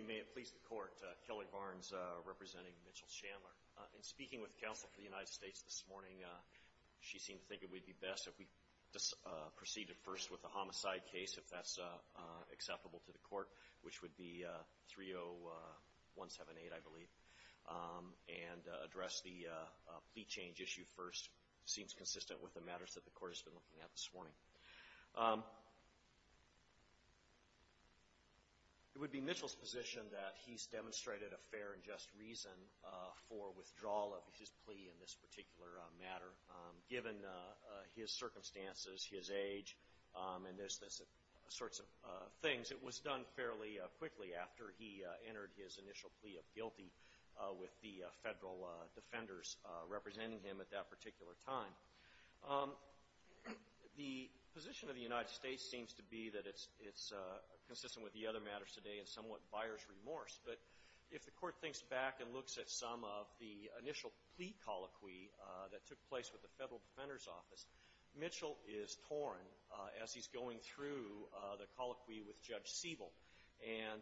May it please the court, Kelly Barnes representing Mitchell Chandler. In speaking with counsel for the United States this morning, she seemed to think it would be best if we just proceeded first with the homicide case, if that's acceptable to the court, which would be 30178, I believe, and address the plea change issue first. It seems consistent with the matters that the court has raised. It would be Mitchell's position that he's demonstrated a fair and just reason for withdrawal of his plea in this particular matter, given his circumstances, his age, and those sorts of things. It was done fairly quickly after he entered his initial plea of guilty with the federal defenders representing him at that particular time. The position of the United States seems to be that it's consistent with the other matters today and somewhat buyers remorse. But if the court thinks back and looks at some of the initial plea colloquy that took place with the Federal Defender's Office, Mitchell is torn as he's going through the colloquy with Judge Sievel. And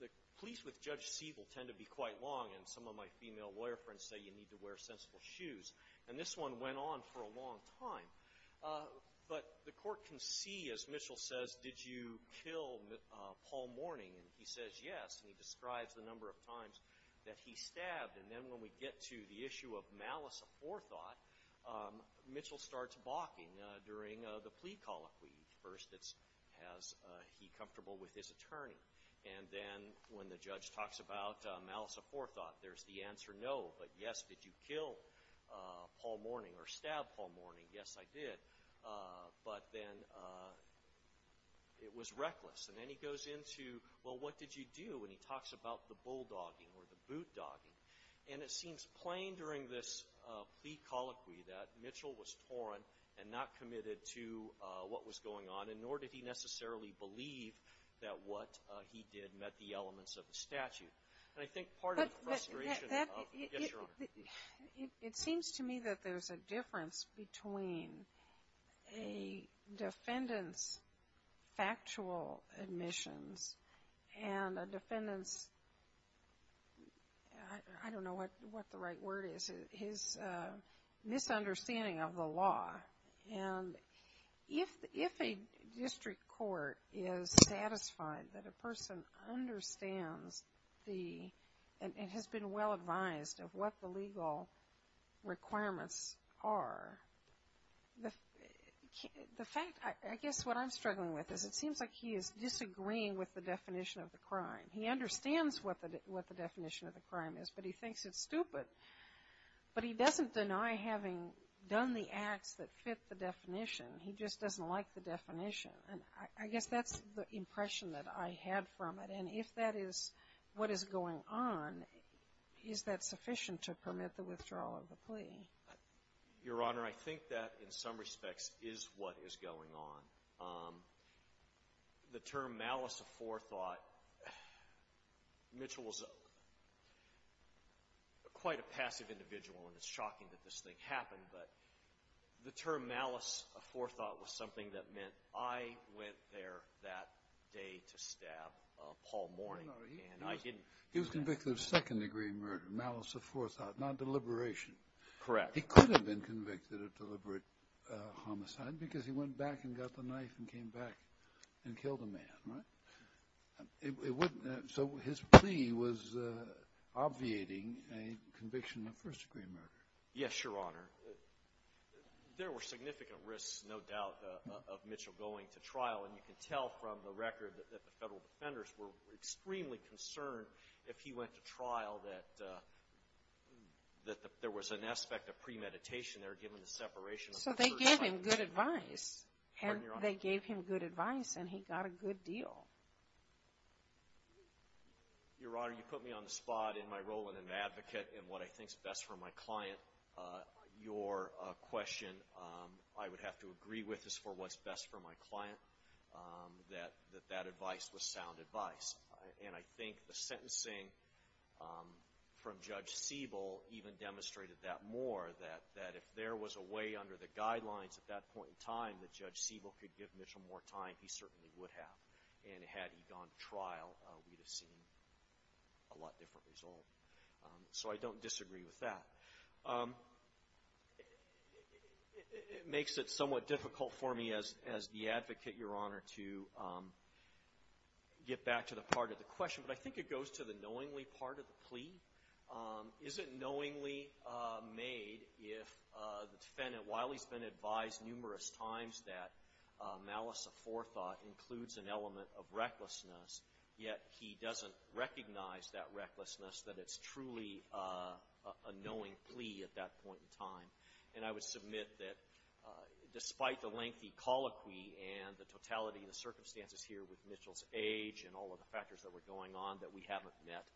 the pleas with Judge Sievel tend to be quite long, and some of my female lawyer friends say you need to wear sensible shoes. And this one went on for a long time. But the court can see, as Mitchell says, did you kill Paul Mourning? And he says yes, and he describes the number of times that he stabbed. And then when we get to the issue of malice aforethought, Mitchell starts balking during the plea colloquy. First it's, is he comfortable with his attorney? And then when the judge talks about malice aforethought, there's the answer no, but yes, did you kill Paul Mourning or stab Paul Mourning? Yes, I did. But then it was reckless. And then he goes into, well, what did you do? And he talks about the bulldogging or the boot-dogging. And it seems plain during this plea colloquy that Mitchell was torn and not committed to what was going on, and nor did he necessarily believe that what he did met the elements of the statute. And I think that's part of the frustration of the guess-journal. It seems to me that there's a difference between a defendant's factual admissions and a defendant's, I don't know what the right word is, his misunderstanding of the law. And if a district court is satisfied that a person understands the, an understanding and has been well advised of what the legal requirements are, the fact, I guess what I'm struggling with is it seems like he is disagreeing with the definition of the crime. He understands what the definition of the crime is, but he thinks it's stupid. But he doesn't deny having done the acts that fit the definition. He just doesn't like the definition. And I guess that's the impression that I had from it. And if that is what is going on, is that sufficient to permit the withdrawal of the plea? Your Honor, I think that, in some respects, is what is going on. The term malice of forethought, Mitchell was quite a passive individual, and it's shocking that this thing happened. But the term malice of forethought was something that meant I went there that day to stab Paul Mourning, and I didn't. He was convicted of second-degree murder, malice of forethought, not deliberation. Correct. He could have been convicted of deliberate homicide because he went back and got the knife and came back and killed a man, right? So his plea was obviating a conviction of first-degree murder. Yes, Your Honor. There were significant risks, no doubt, of Mitchell going to trial. And you can tell from the record that the federal defenders were extremely concerned, if he went to trial, that there was an aspect of premeditation there, given the separation of the first time. So they gave him good advice. Pardon me, Your Honor. They gave him good advice, and he got a good deal. Your Honor, you put me on the spot in my role as an advocate and what I think is best for your question, I would have to agree with, is for what's best for my client, that that advice was sound advice. And I think the sentencing from Judge Siebel even demonstrated that more, that if there was a way under the guidelines at that point in time that Judge Siebel could give Mitchell more time, he certainly would have. And had he gone to trial, we'd have seen a lot different result. So I don't disagree with that. It makes it somewhat difficult for me as the advocate, Your Honor, to get back to the part of the question. But I think it goes to the knowingly part of the plea. Is it knowingly made if the defendant, while he's been advised numerous times that malice of forethought includes an element of recklessness, yet he doesn't recognize that recklessness, that it's truly a knowing plea at that point in time. And I would submit that despite the lengthy colloquy and the totality of the circumstances here with Mitchell's age and all of the factors that were going on, that we haven't met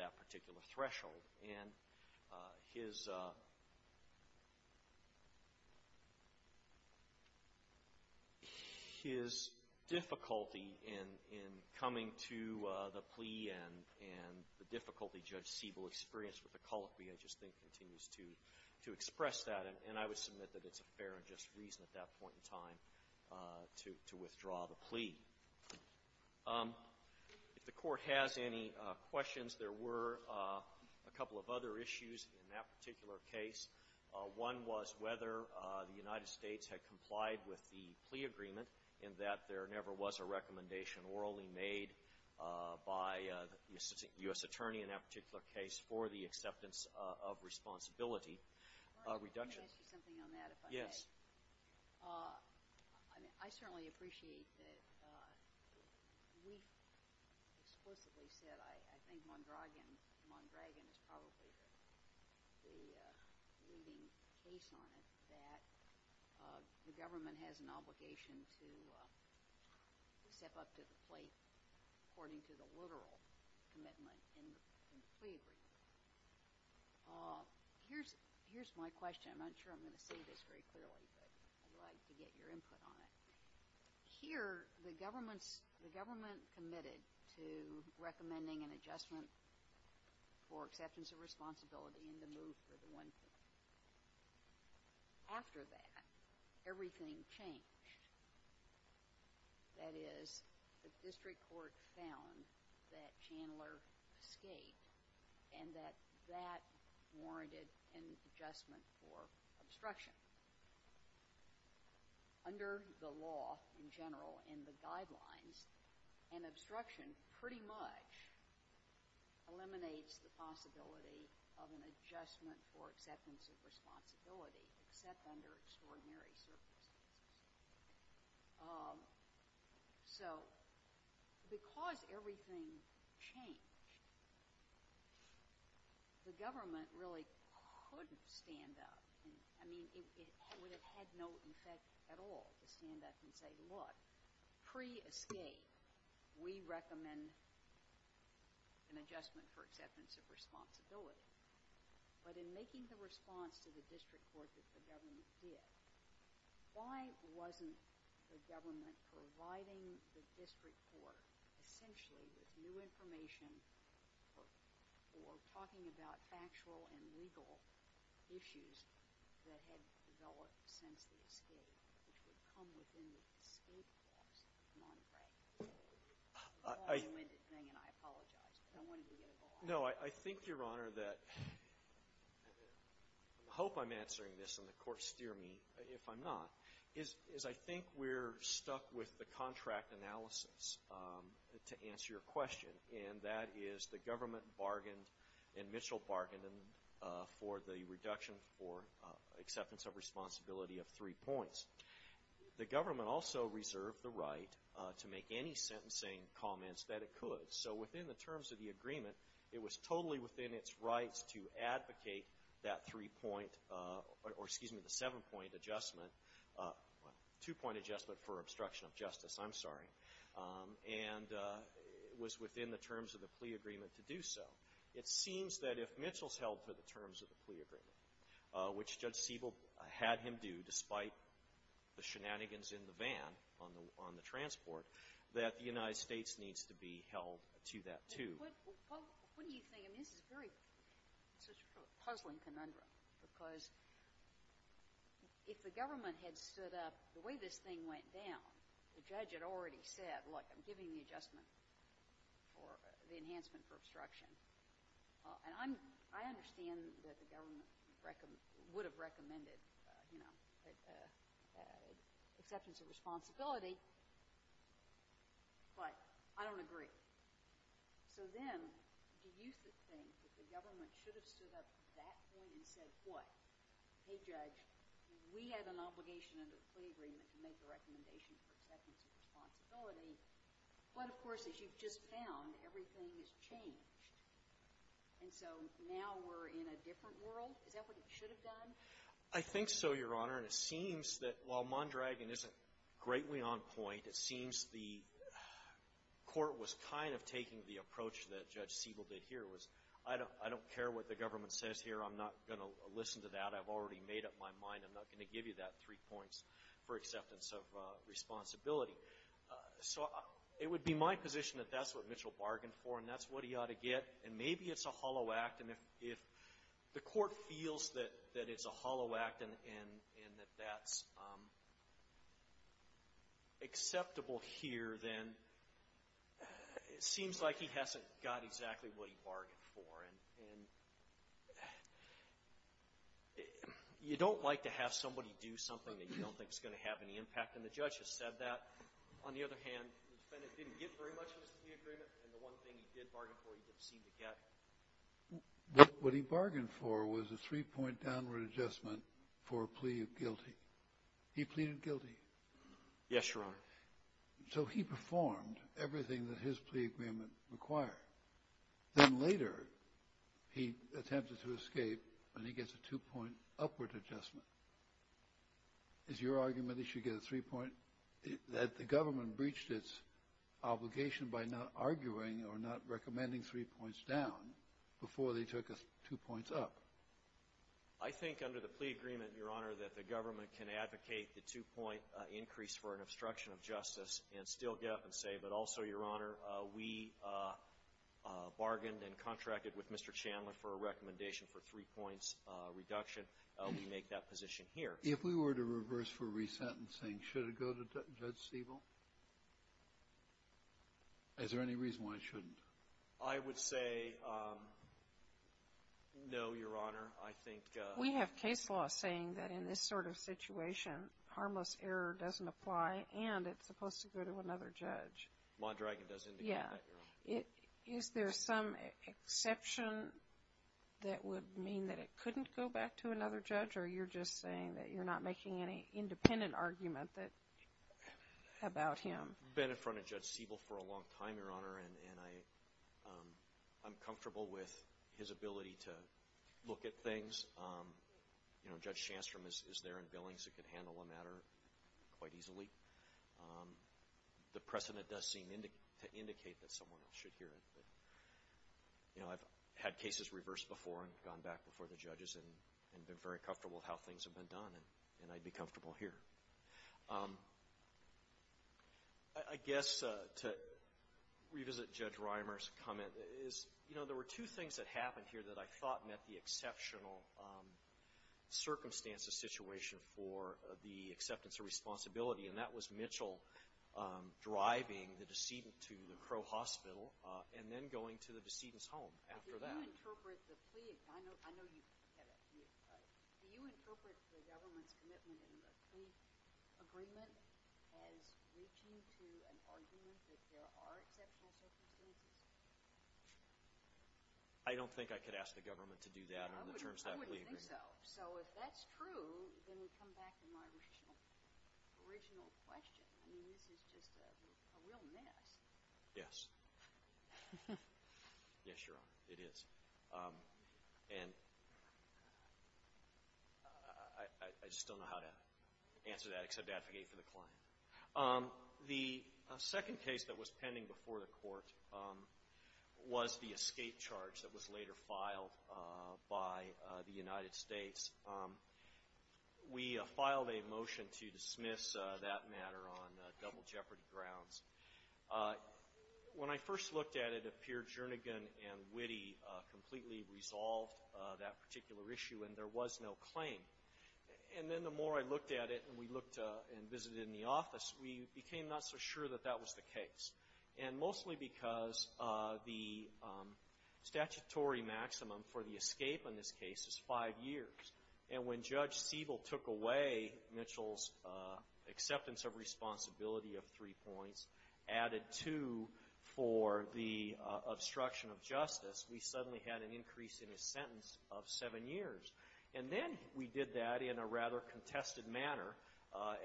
that particular threshold. And his difficulty in coming to the plea and the difficulty Judge Siebel experienced with the colloquy, I just think, continues to express that. And I would submit that it's a fair and just reason at that point in time to withdraw the plea. If the Court has any questions, there were a couple of other issues in that particular case. One was whether the United States had complied with the plea agreement and that there never was a recommendation orally made by the U.S. attorney in that particular case for the acceptance of responsibility reduction. Let me ask you something on that, if I may. Yes. I certainly appreciate that we've explicitly said, I think Mondragon is probably the leading case on it, that the government has an obligation to step up to the plate according to the literal commitment in the plea agreement. Here's my question. I'm not sure I'm going to say this very clearly, but I'd like to get your input on it. Here, the government committed to recommending an adjustment for acceptance of responsibility and to move for the one-fifth. After that, everything changed. That is, the District Court found that Chandler escaped and that that warranted an adjustment for obstruction. Under the law in general and the guidelines, an obstruction pretty much eliminates the possibility of an adjustment for acceptance of responsibility except under extraordinary circumstances. So, because everything changed, the government really couldn't stand up. I mean, it would have had no effect at all to stand up and say, look, pre-escape, we recommend an adjustment for acceptance of responsibility. But in making the response to the District Court that the government did, why wasn't the government providing the District Court essentially with new information or talking about factual and legal issues that had developed since the escape, which would come within the escape clause of Mondragon? I think, Your Honor, that the hope I'm answering this and the court steer me, if I'm not, is I think we're stuck with the contract analysis to answer your question, and that is the government bargained and Mitchell bargained for the reduction for acceptance of responsibility of three points. The government also reserved the right to make any sentencing comments that it could. So within the terms of the agreement, it was totally within its rights to advocate that three-point or, excuse me, the seven-point adjustment, two-point adjustment for obstruction of justice, I'm sorry, and it was within the terms of the plea agreement to do so. It seems that if Mitchell's held to the terms of the plea agreement, which Judge Siebel had him do despite the shenanigans in the van on the transport, that the United States needs to be held to that, too. What do you think? I mean, this is a very sort of puzzling conundrum, because if the government had stood up the way this thing went down, the judge had already said, look, I'm giving the adjustment for the enhancement for obstruction, and I understand that the government has accepted, you know, acceptance of responsibility, but I don't agree. So then do you think that the government should have stood up to that point and said, what, hey, judge, we have an obligation under the plea agreement to make the recommendation for acceptance of responsibility, but of course, as you've just found, everything has changed. And so now we're in a different world? Is that what it should have done? I think so, Your Honor, and it seems that while Mondragon isn't greatly on point, it seems the court was kind of taking the approach that Judge Siebel did here, was I don't care what the government says here. I'm not going to listen to that. I've already made up my mind. I'm not going to give you that three points for acceptance of responsibility. So it would be my position that that's what Mitchell bargained for, and that's what he ought to get, and maybe it's a hollow act. And if the court feels that it's a hollow act and that that's acceptable here, then it seems like he hasn't got exactly what he bargained for. And you don't like to have somebody do something that you don't think is going to have any impact, and the judge has said that. On the other hand, the defendant didn't get very much of the agreement, and the one thing he did bargain for he didn't seem to get. What he bargained for was a three-point downward adjustment for a plea of guilty. He pleaded guilty. Yes, Your Honor. So he performed everything that his plea agreement required. Then later he attempted to escape, and he gets a two-point upward adjustment. Is your argument that he should get a three-point? Or is your argument that the government breached its obligation by not arguing or not recommending three points down before they took a two points up? I think under the plea agreement, Your Honor, that the government can advocate the two-point increase for an obstruction of justice and still get up and say, but also, Your Honor, we bargained and contracted with Mr. Chandler for a recommendation for a three-points reduction. We make that position here. If we were to reverse for resentencing, should it go to Judge Stiebel? Is there any reason why it shouldn't? I would say no, Your Honor. I think we have case law saying that in this sort of situation harmless error doesn't apply, and it's supposed to go to another judge. Mondragon does indicate that, Your Honor. Yeah. Is there some exception that would mean that it couldn't go back to another judge, or you're just saying that you're not making any independent argument about him? I've been in front of Judge Stiebel for a long time, Your Honor, and I'm comfortable with his ability to look at things. You know, Judge Shandstrom is there in Billings and can handle a matter quite easily. The precedent does seem to indicate that someone else should hear it. You know, I've had cases reversed before and gone back before the judges and been very comfortable with how things have been done, and I'd be comfortable here. I guess to revisit Judge Reimer's comment is, you know, there were two things that happened here that I thought met the exceptional circumstances situation for the acceptance of responsibility, and that was Mitchell driving the decedent to the Crow Hospital and then going to the decedent's home after that. Do you interpret the government's commitment in the plea agreement as reaching to an argument that there are exceptional circumstances? I don't think I could ask the government to do that under the terms of that plea agreement. I wouldn't think so. So if that's true, then we come back to my original question. I mean, this is just a real mess. Yes. Yes, Your Honor, it is. And I just don't know how to answer that except to advocate for the client. The second case that was pending before the court was the escape charge that was later filed by the United States. We filed a motion to dismiss that matter on double jeopardy grounds. When I first looked at it, it appeared Jernigan and Witte completely resolved that particular issue, and there was no claim. And then the more I looked at it, and we looked and visited in the office, we became not so sure that that was the case, and mostly because the statutory maximum for the escape in this case is five years. And when Judge Sievel took away Mitchell's acceptance of responsibility of three points, added two for the obstruction of justice, we suddenly had an increase in his sentence of seven years. And then we did that in a rather contested manner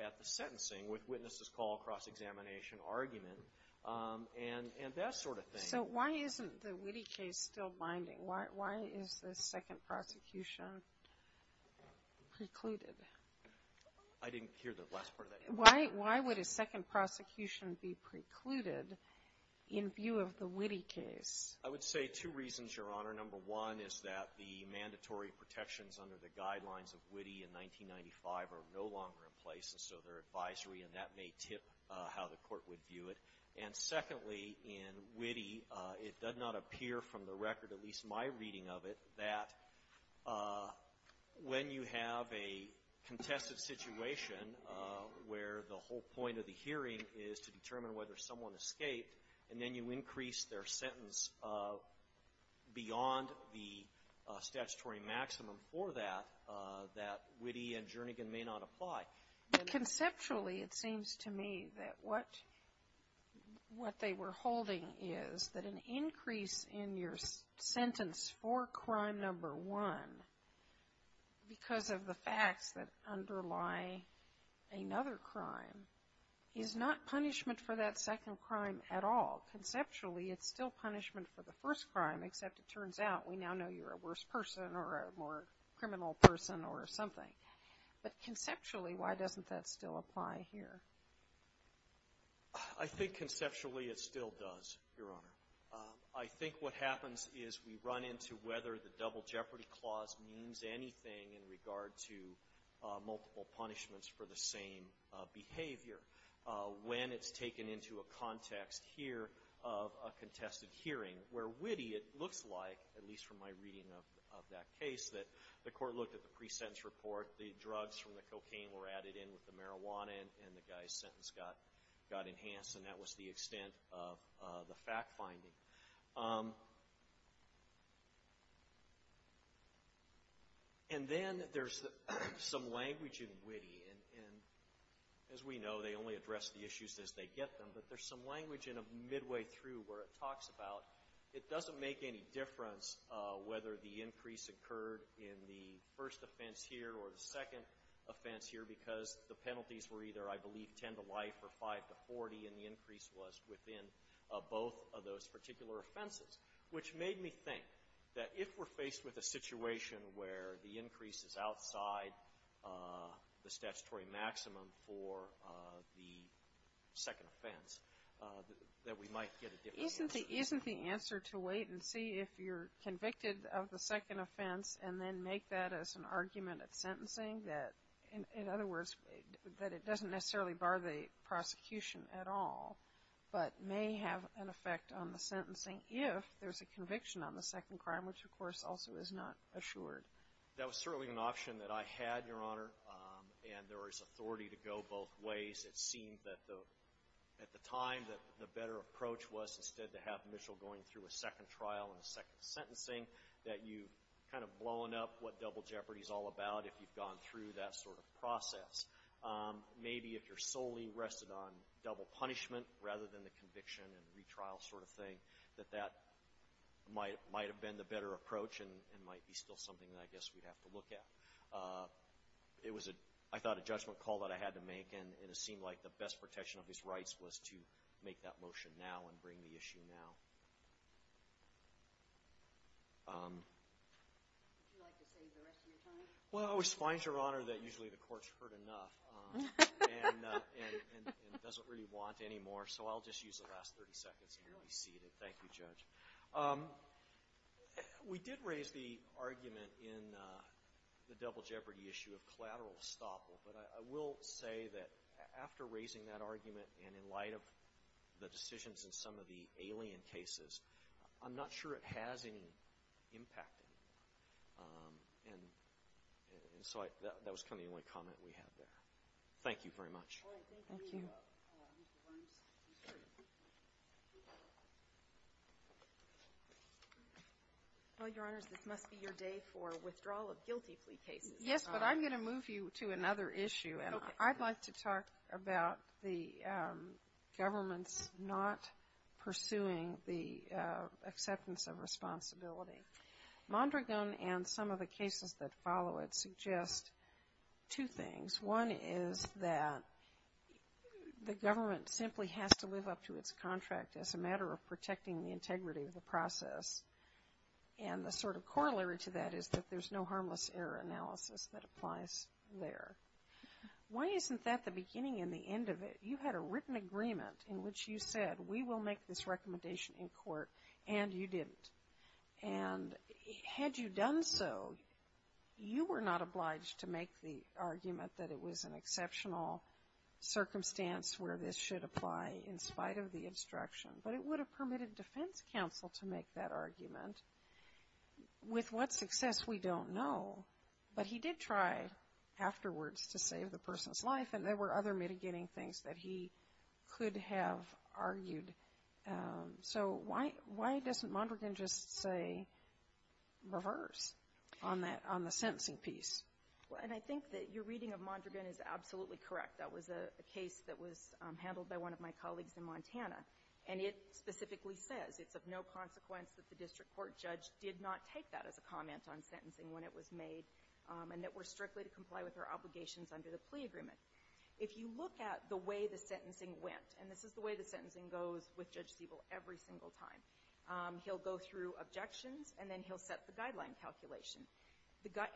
at the sentencing with witness's call, cross-examination, argument, and that sort of thing. So why isn't the Witte case still binding? Why is the second prosecution precluded? I didn't hear the last part of that. Why would a second prosecution be precluded in view of the Witte case? I would say two reasons, Your Honor. Number one is that the mandatory protections under the guidelines of Witte in 1995 are no longer in place, and so they're advisory, and that may tip how the court would view it. And secondly, in Witte, it does not appear from the record, at least my reading of it, that when you have a contested situation where the whole point of the hearing is to determine whether someone escaped, and then you increase their sentence beyond the statutory maximum for that, that Witte and Jernigan may not apply. But conceptually, it seems to me that what they were holding is that an increase in your sentence for crime number one, because of the facts that underlie another crime, is not punishment for that second crime at all. Conceptually, it's still punishment for the first crime, except it turns out we now know you're a worse person or a more criminal person or something. But conceptually, why doesn't that still apply here? I think conceptually it still does, Your Honor. I think what happens is we run into whether the double jeopardy clause means anything in regard to multiple punishments for the same behavior when it's taken into a context here of a contested hearing, where Witte, it looks like, at least from my reading of that case, that the court looked at the pre-sentence report. The drugs from the cocaine were added in with the marijuana, and the guy's sentence got enhanced, and that was the extent of the fact-finding. And then there's some language in Witte, and as we know, they only address the issues as they get them. But there's some language in them midway through where it talks about it doesn't make any difference whether the increase occurred in the first offense here or the second offense here because the penalties were either, I believe, 10 to life or 5 to 40, and the increase was within both of those particular offenses, which made me think that if we're faced with a situation where the increase is outside the statutory maximum for the answer to wait and see if you're convicted of the second offense and then make that as an argument at sentencing, that, in other words, that it doesn't necessarily bar the prosecution at all, but may have an effect on the sentencing if there's a conviction on the second crime, which, of course, also is not assured. That was certainly an option that I had, Your Honor, and there is authority to go both ways. It seemed at the time that the better approach was instead to have Mitchell going through a second trial and a second sentencing, that you've kind of blown up what double jeopardy is all about if you've gone through that sort of process. Maybe if you're solely rested on double punishment rather than the conviction and retrial sort of thing, that that might have been the better approach and might be still something that I guess we'd have to look at. It was, I thought, a judgment call that I had to make, and it seemed like the best protection of his rights was to make that motion now and bring the issue now. Would you like to save the rest of your time? Well, I always find, Your Honor, that usually the court's heard enough and doesn't really want any more, so I'll just use the last 30 seconds and be seated. Thank you, Judge. We did raise the argument in the double jeopardy issue of collateral estoppel, but I will say that after raising that argument and in light of the decisions in some of the alien cases, I'm not sure it has any impact anymore. And so that was kind of the only comment we had there. Thank you very much. Thank you. Well, Your Honors, this must be your day for withdrawal of guilty plea cases. Yes, but I'm going to move you to another issue, and I'd like to talk about the government's not pursuing the acceptance of responsibility. Mondragon and some of the cases that follow it suggest two things. One is that the government simply has to live up to its contract as a matter of protecting the integrity of the process, and the sort of corollary to that is that there's no harmless error analysis that applies there. Why isn't that the beginning and the end of it? You had a written agreement in which you said, we will make this recommendation in court, and you didn't. And had you done so, you were not obliged to make the argument that it was an exceptional circumstance where this should apply in spite of the instruction, but it would have permitted defense counsel to make that argument. With what success, we don't know, but he did try afterwards to save the person's life, and there were other mitigating things that he could have argued. So why doesn't Mondragon just say reverse on the sentencing piece? Well, and I think that your reading of Mondragon is absolutely correct. That was a case that was handled by one of my colleagues in Montana, and it specifically says it's of no consequence that the district court judge did not take that as a comment on sentencing when it was made, and that we're strictly to comply with our obligations under the plea agreement. If you look at the way the sentencing went, and this is the way the sentencing goes with Judge Siebel every single time, he'll go through objections, and then he'll set the guideline calculation.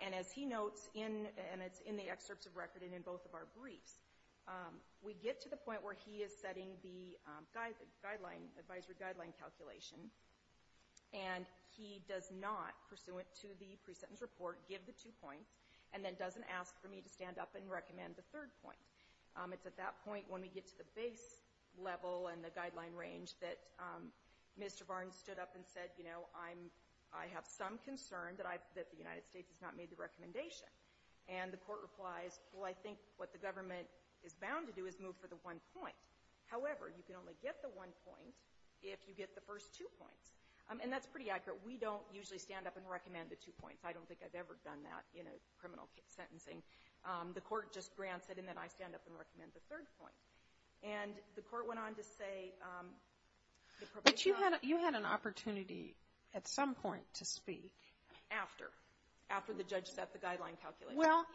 And as he notes in the excerpts of record and in both of our briefs, we get to the point where he is setting the advisory guideline calculation, and he does not, pursuant to the pre-sentence report, give the two points, and then doesn't ask for me to stand up and recommend the third point. It's at that point, when we get to the base level and the guideline range, that Mr. Barnes stood up and said, you know, I have some concern that the United States has not made the recommendation. And the court replies, well, I think what the government is bound to do is move for the one point. However, you can only get the one point if you get the first two points. And that's pretty accurate. We don't usually stand up and recommend the two points. I don't think I've ever done that in a criminal sentencing. The court just grants it, and then I stand up and recommend the third point. And the court went on to say the probation law ---- Kagan. But you had an opportunity at some point to speak after, after the judge set the guideline calculation. Well,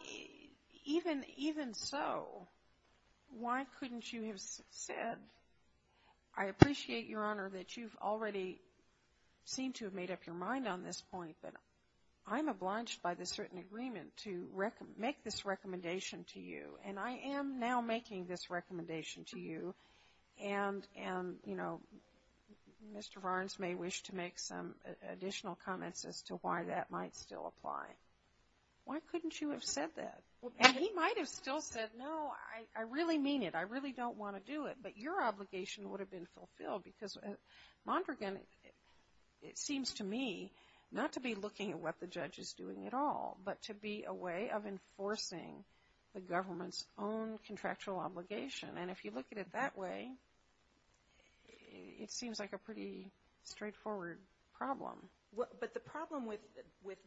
even so, why couldn't you have said, I appreciate, Your Honor, that you've already seemed to have made up your mind on this point, but I'm obliged by this written agreement to make this recommendation to you. And I am now making this recommendation to you. And, you know, Mr. Barnes may wish to make some additional comments as to why that might still apply. Why couldn't you have said that? And he might have still said, no, I really mean it. I really don't want to do it. But your obligation would have been fulfilled. Because Mondragon, it seems to me, not to be looking at what the judge is doing at all, but to be a way of enforcing the government's own contractual obligation. And if you look at it that way, it seems like a pretty straightforward problem. But the problem with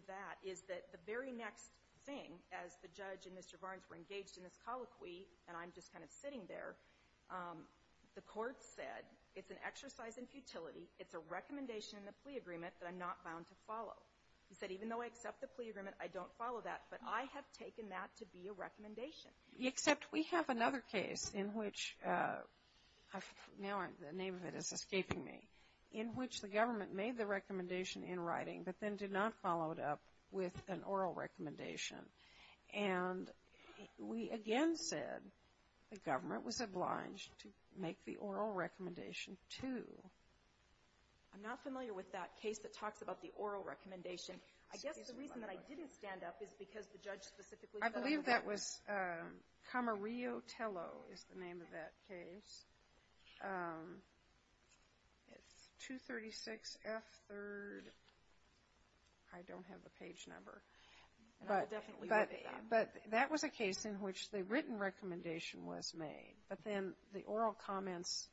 that is that the very next thing, as the judge and Mr. Barnes were engaged in this colloquy, and I'm just kind of sitting there, the court said, it's an exercise in futility. It's a recommendation in the plea agreement that I'm not bound to follow. He said, even though I accept the plea agreement, I don't follow that. But I have taken that to be a recommendation. Except we have another case in which, now the name of it is escaping me, in which the government made the recommendation in writing, but then did not follow it up with an oral recommendation. And we again said the government was obliged to make the oral recommendation, too. I'm not familiar with that case that talks about the oral recommendation. I guess the reason that I didn't stand up is because the judge specifically said. I believe that was Camarillo Tello is the name of that case. It's 236F3rd. I don't have the page number. And I'll definitely look at that. But that was a case in which the written recommendation was made, but then the oral comments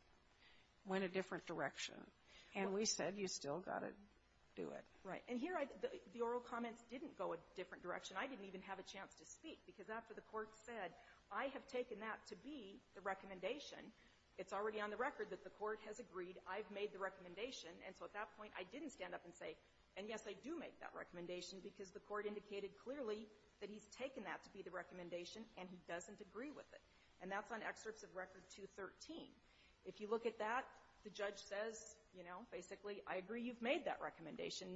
went a different direction. And we said, you still got to do it. Right. And here, the oral comments didn't go a different direction. I didn't even have a chance to speak, because after the court said, I have taken that to be the recommendation, it's already on the record that the court has agreed I've made the recommendation. And so at that point, I didn't stand up and say, and yes, I do make that recommendation, because the court indicated clearly that he's taken that to be the recommendation and he doesn't agree with it. And that's on Excerpts of Record 213. If you look at that, the judge says, you know, basically, I agree you've made that recommendation,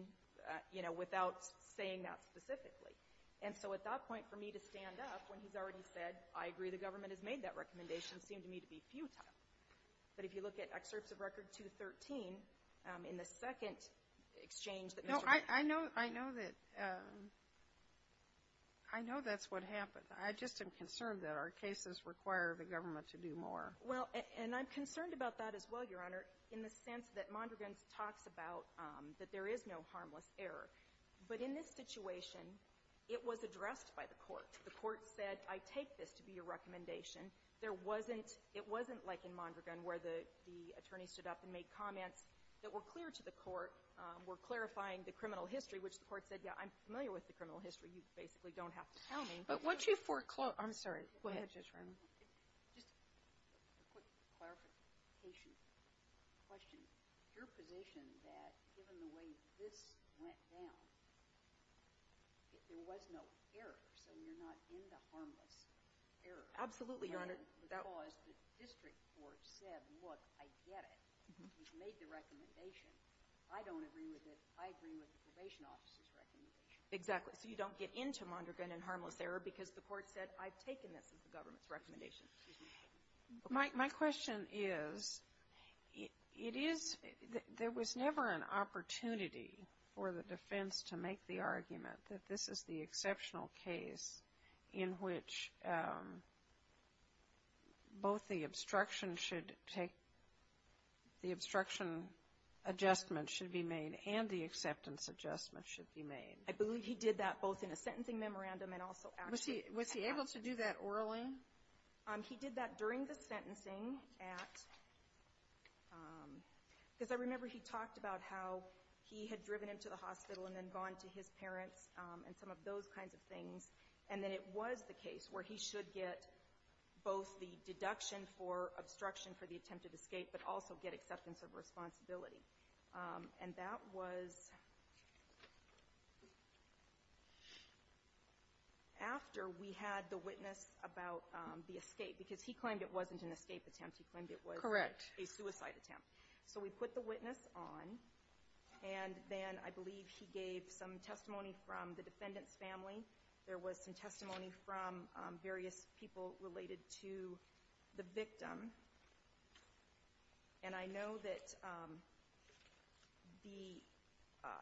you know, without saying that specifically. And so at that point, for me to stand up when he's already said, I agree the government has made that recommendation seemed to me to be futile. But if you look at Excerpts of Record 213, in the second exchange that Mr. Kagan No. I know that's what happened. I just am concerned that our cases require the government to do more. Well, and I'm concerned about that as well, Your Honor, in the sense that Mondragon talks about that there is no harmless error. But in this situation, it was addressed by the court. The court said, I take this to be your recommendation. There wasn't — it wasn't like in Mondragon where the attorney stood up and made comments that were clear to the court, were clarifying the criminal history, which the court said, yeah, I'm familiar with the criminal history. You basically don't have to tell me. But once you foreclose — I'm sorry. Go ahead, Judge Roberts. Just a quick clarification question. Is your position that given the way this went down, there was no error, so you're not in the harmless error? Absolutely, Your Honor. Because the district court said, look, I get it. You've made the recommendation. I don't agree with it. I agree with the probation office's recommendation. Exactly. So you don't get into Mondragon and harmless error because the court said, I've taken this as the government's recommendation. Excuse me. My question is, it is — there was never an opportunity for the defense to make the argument that this is the exceptional case in which both the obstruction should take — the obstruction adjustment should be made and the acceptance adjustment should be made. I believe he did that both in a sentencing memorandum and also actually at court. Was he able to do that orally? He did that during the sentencing at — because I remember he talked about how he had driven him to the hospital and then gone to his parents and some of those kinds of things. And then it was the case where he should get both the deduction for obstruction for the attempted escape but also get acceptance of responsibility. And that was after we had the witness about the escape, because he claimed it wasn't an escape attempt. He claimed it was a suicide attempt. Correct. So we put the witness on, and then I believe he gave some testimony from the defendant's family. There was some testimony from various people related to the victim. And I know that the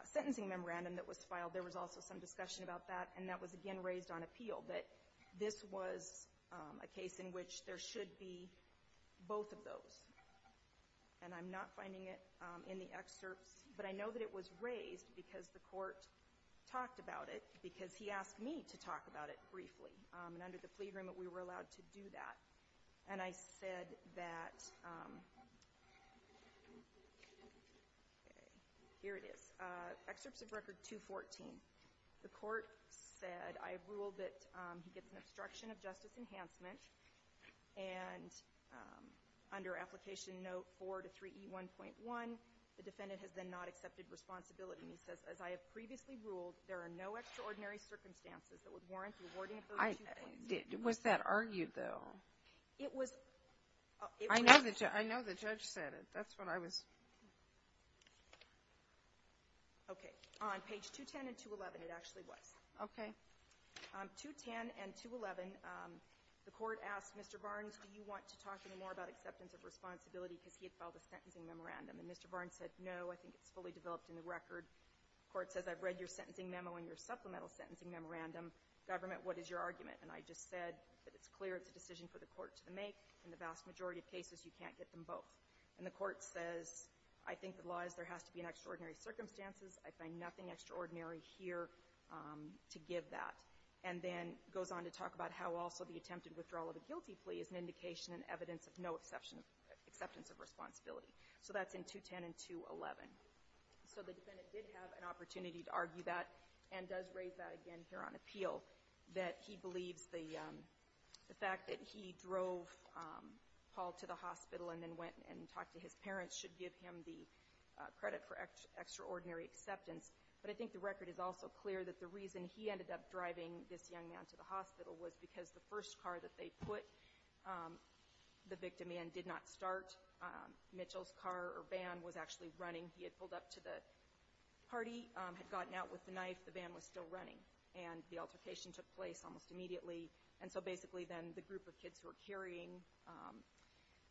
sentencing memorandum that was filed, there was also some discussion about that, and that was again raised on appeal, that this was a case in which there should be both of those. And I'm not finding it in the excerpts, but I know that it was raised because the court talked about it, because he asked me to talk about it briefly. And under the plea agreement, we were allowed to do that. And I said that — here it is. Excerpts of Record 214. The court said, I have ruled that he gets an obstruction of justice enhancement. And under Application Note 4 to 3E1.1, the defendant has then not accepted responsibility. And he says, as I have previously ruled, there are no extraordinary circumstances that would warrant the awarding of those two points. Was that argued, though? It was — I know the judge said it. That's what I was — Okay. On page 210 and 211, it actually was. Okay. On 210 and 211, the court asked Mr. Barnes, do you want to talk any more about acceptance of responsibility, because he had filed a sentencing memorandum. And Mr. Barnes said, no, I think it's fully developed in the record. The court says, I've read your sentencing memo and your supplemental sentencing memorandum. Government, what is your argument? And I just said that it's clear it's a decision for the court to make. In the vast majority of cases, you can't get them both. And the court says, I think the law is there has to be an extraordinary circumstances. I find nothing extraordinary here to give that. And then goes on to talk about how also the attempted withdrawal of the guilty plea is an indication and evidence of no acceptance of responsibility. So that's in 210 and 211. So the defendant did have an opportunity to argue that and does raise that again here on appeal, that he believes the fact that he drove Paul to the hospital and then went and talked to his parents should give him the credit for extraordinary acceptance. But I think the record is also clear that the reason he ended up driving this young man to the hospital was because the first car that they put the victim in did not start. Mitchell's car or van was actually running. He had pulled up to the party, had gotten out with the knife. The van was still running. And the altercation took place almost immediately. And so basically then the group of kids who were carrying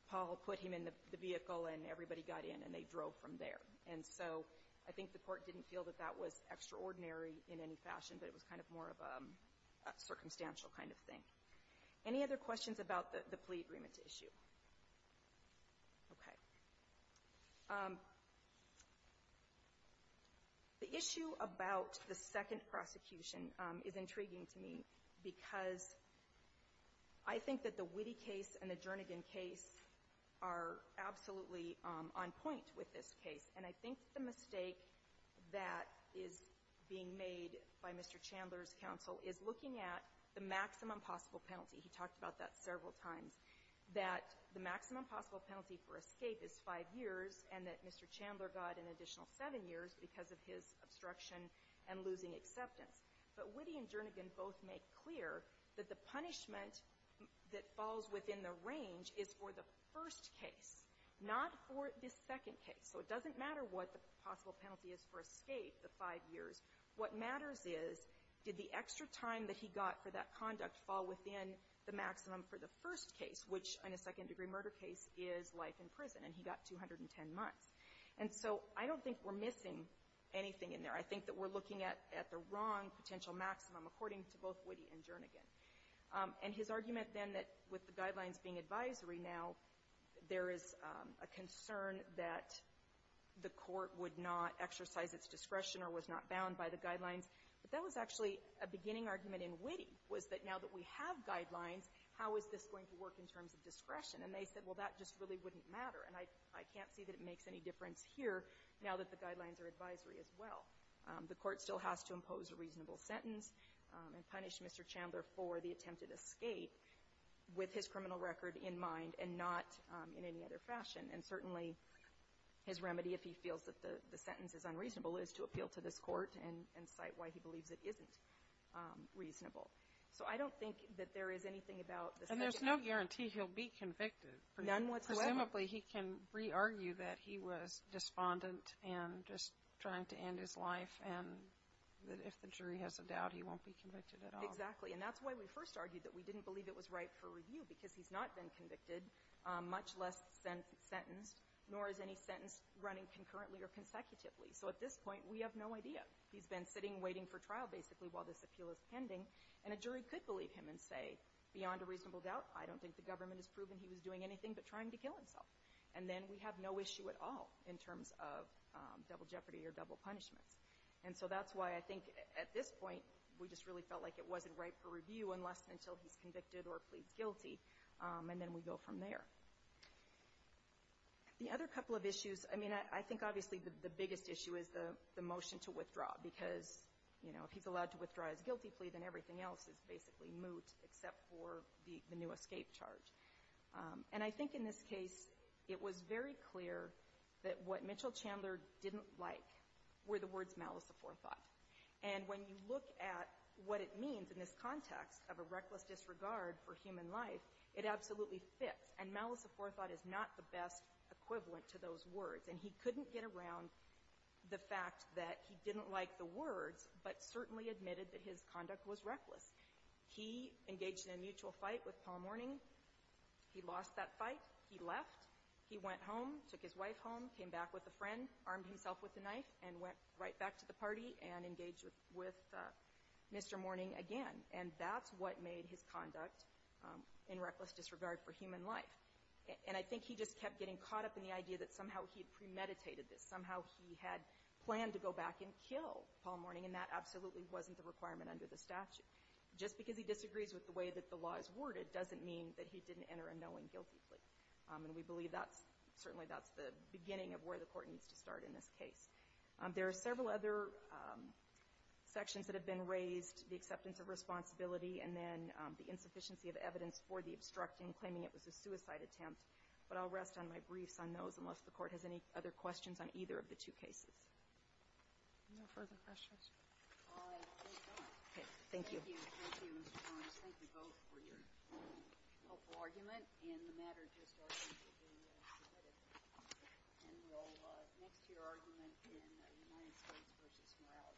Paul put him in the vehicle and everybody got in and they drove from there. And so I think the court didn't feel that that was extraordinary in any fashion, but it was kind of more of a circumstantial kind of thing. Any other questions about the plea agreement issue? Okay. The issue about the second prosecution is intriguing to me because I think that the Witte case and the Jernigan case are absolutely on point with this case. And I think the mistake that is being made by Mr. Chandler's counsel is looking at the maximum possible penalty. He talked about that several times, that the maximum possible penalty for escape is five years and that Mr. Chandler got an additional seven years because of his obstruction and losing acceptance. But Witte and Jernigan both make clear that the punishment that falls within the range is for the first case, not for the second case. So it doesn't matter what the possible penalty is for escape, the five years. What matters is, did the extra time that he got for that conduct fall within the maximum for the first case, which in a second-degree murder case is life in prison, and he got 210 months. And so I don't think we're missing anything in there. I think that we're looking at the wrong potential maximum, according to both Witte and Jernigan. And his argument then that with the guidelines being advisory now, there is a concern that the court would not exercise its discretion or was not bound by the guidelines. But that was actually a beginning argument in Witte, was that now that we have guidelines, how is this going to work in terms of discretion? And they said, well, that just really wouldn't matter. And I can't see that it makes any difference here now that the guidelines are advisory as well. The court still has to impose a reasonable sentence and punish Mr. Chandler for the attempted escape with his criminal record in mind and not in any other fashion. And certainly his remedy, if he feels that the sentence is unreasonable, is to appeal to this court and cite why he believes it isn't reasonable. So I don't think that there is anything about the subject. And there's no guarantee he'll be convicted. None whatsoever. Presumably he can re-argue that he was despondent and just trying to end his life and that if the jury has a doubt, he won't be convicted at all. Exactly. And that's why we first argued that we didn't believe it was right for review, because he's not been convicted, much less sentenced, nor is any sentence running concurrently or consecutively. So at this point, we have no idea. He's been sitting waiting for trial, basically, while this appeal is pending, and a jury could believe him and say, beyond a reasonable doubt, I don't think the government has proven he was doing anything but trying to kill himself. And then we have no issue at all in terms of double jeopardy or double punishments. And so that's why I think at this point we just really felt like it wasn't right for review unless until he's convicted or pleads guilty, and then we go from there. The other couple of issues, I mean, I think obviously the biggest issue is the motion to withdraw, because, you know, if he's allowed to withdraw his guilty plea, then everything else is basically moot except for the new escape charge. And I think in this case it was very clear that what Mitchell Chandler didn't like were the words malice of forethought. And when you look at what it means in this context of a reckless disregard for human life, it absolutely fits. And malice of forethought is not the best equivalent to those words. And he couldn't get around the fact that he didn't like the words, but certainly admitted that his conduct was reckless. He engaged in a mutual fight with Paul Mourning. He lost that fight. He left. He went home, took his wife home, came back with a friend, armed himself with a knife and went right back to the party and engaged with Mr. Mourning again. And that's what made his conduct in reckless disregard for human life. And I think he just kept getting caught up in the idea that somehow he had premeditated this. Somehow he had planned to go back and kill Paul Mourning, and that absolutely wasn't the requirement under the statute. Just because he disagrees with the way that the law is worded doesn't mean that he didn't enter a knowing guilty plea. And we believe that's certainly the beginning of where the Court needs to start in this case. There are several other sections that have been raised, the acceptance of responsibility and then the insufficiency of evidence for the obstructing, claiming it was a suicide attempt. But I'll rest on my briefs on those unless the Court has any other questions on either of the two cases. No further questions? All right. Thank you. Thank you. Thank you. Thank you, Mr. Barnes. Thank you both for your helpful argument. And the matter just argued to be submitted. And we'll move to your argument in United States v. Morales. Mr. Bredin. Mr. Bredin.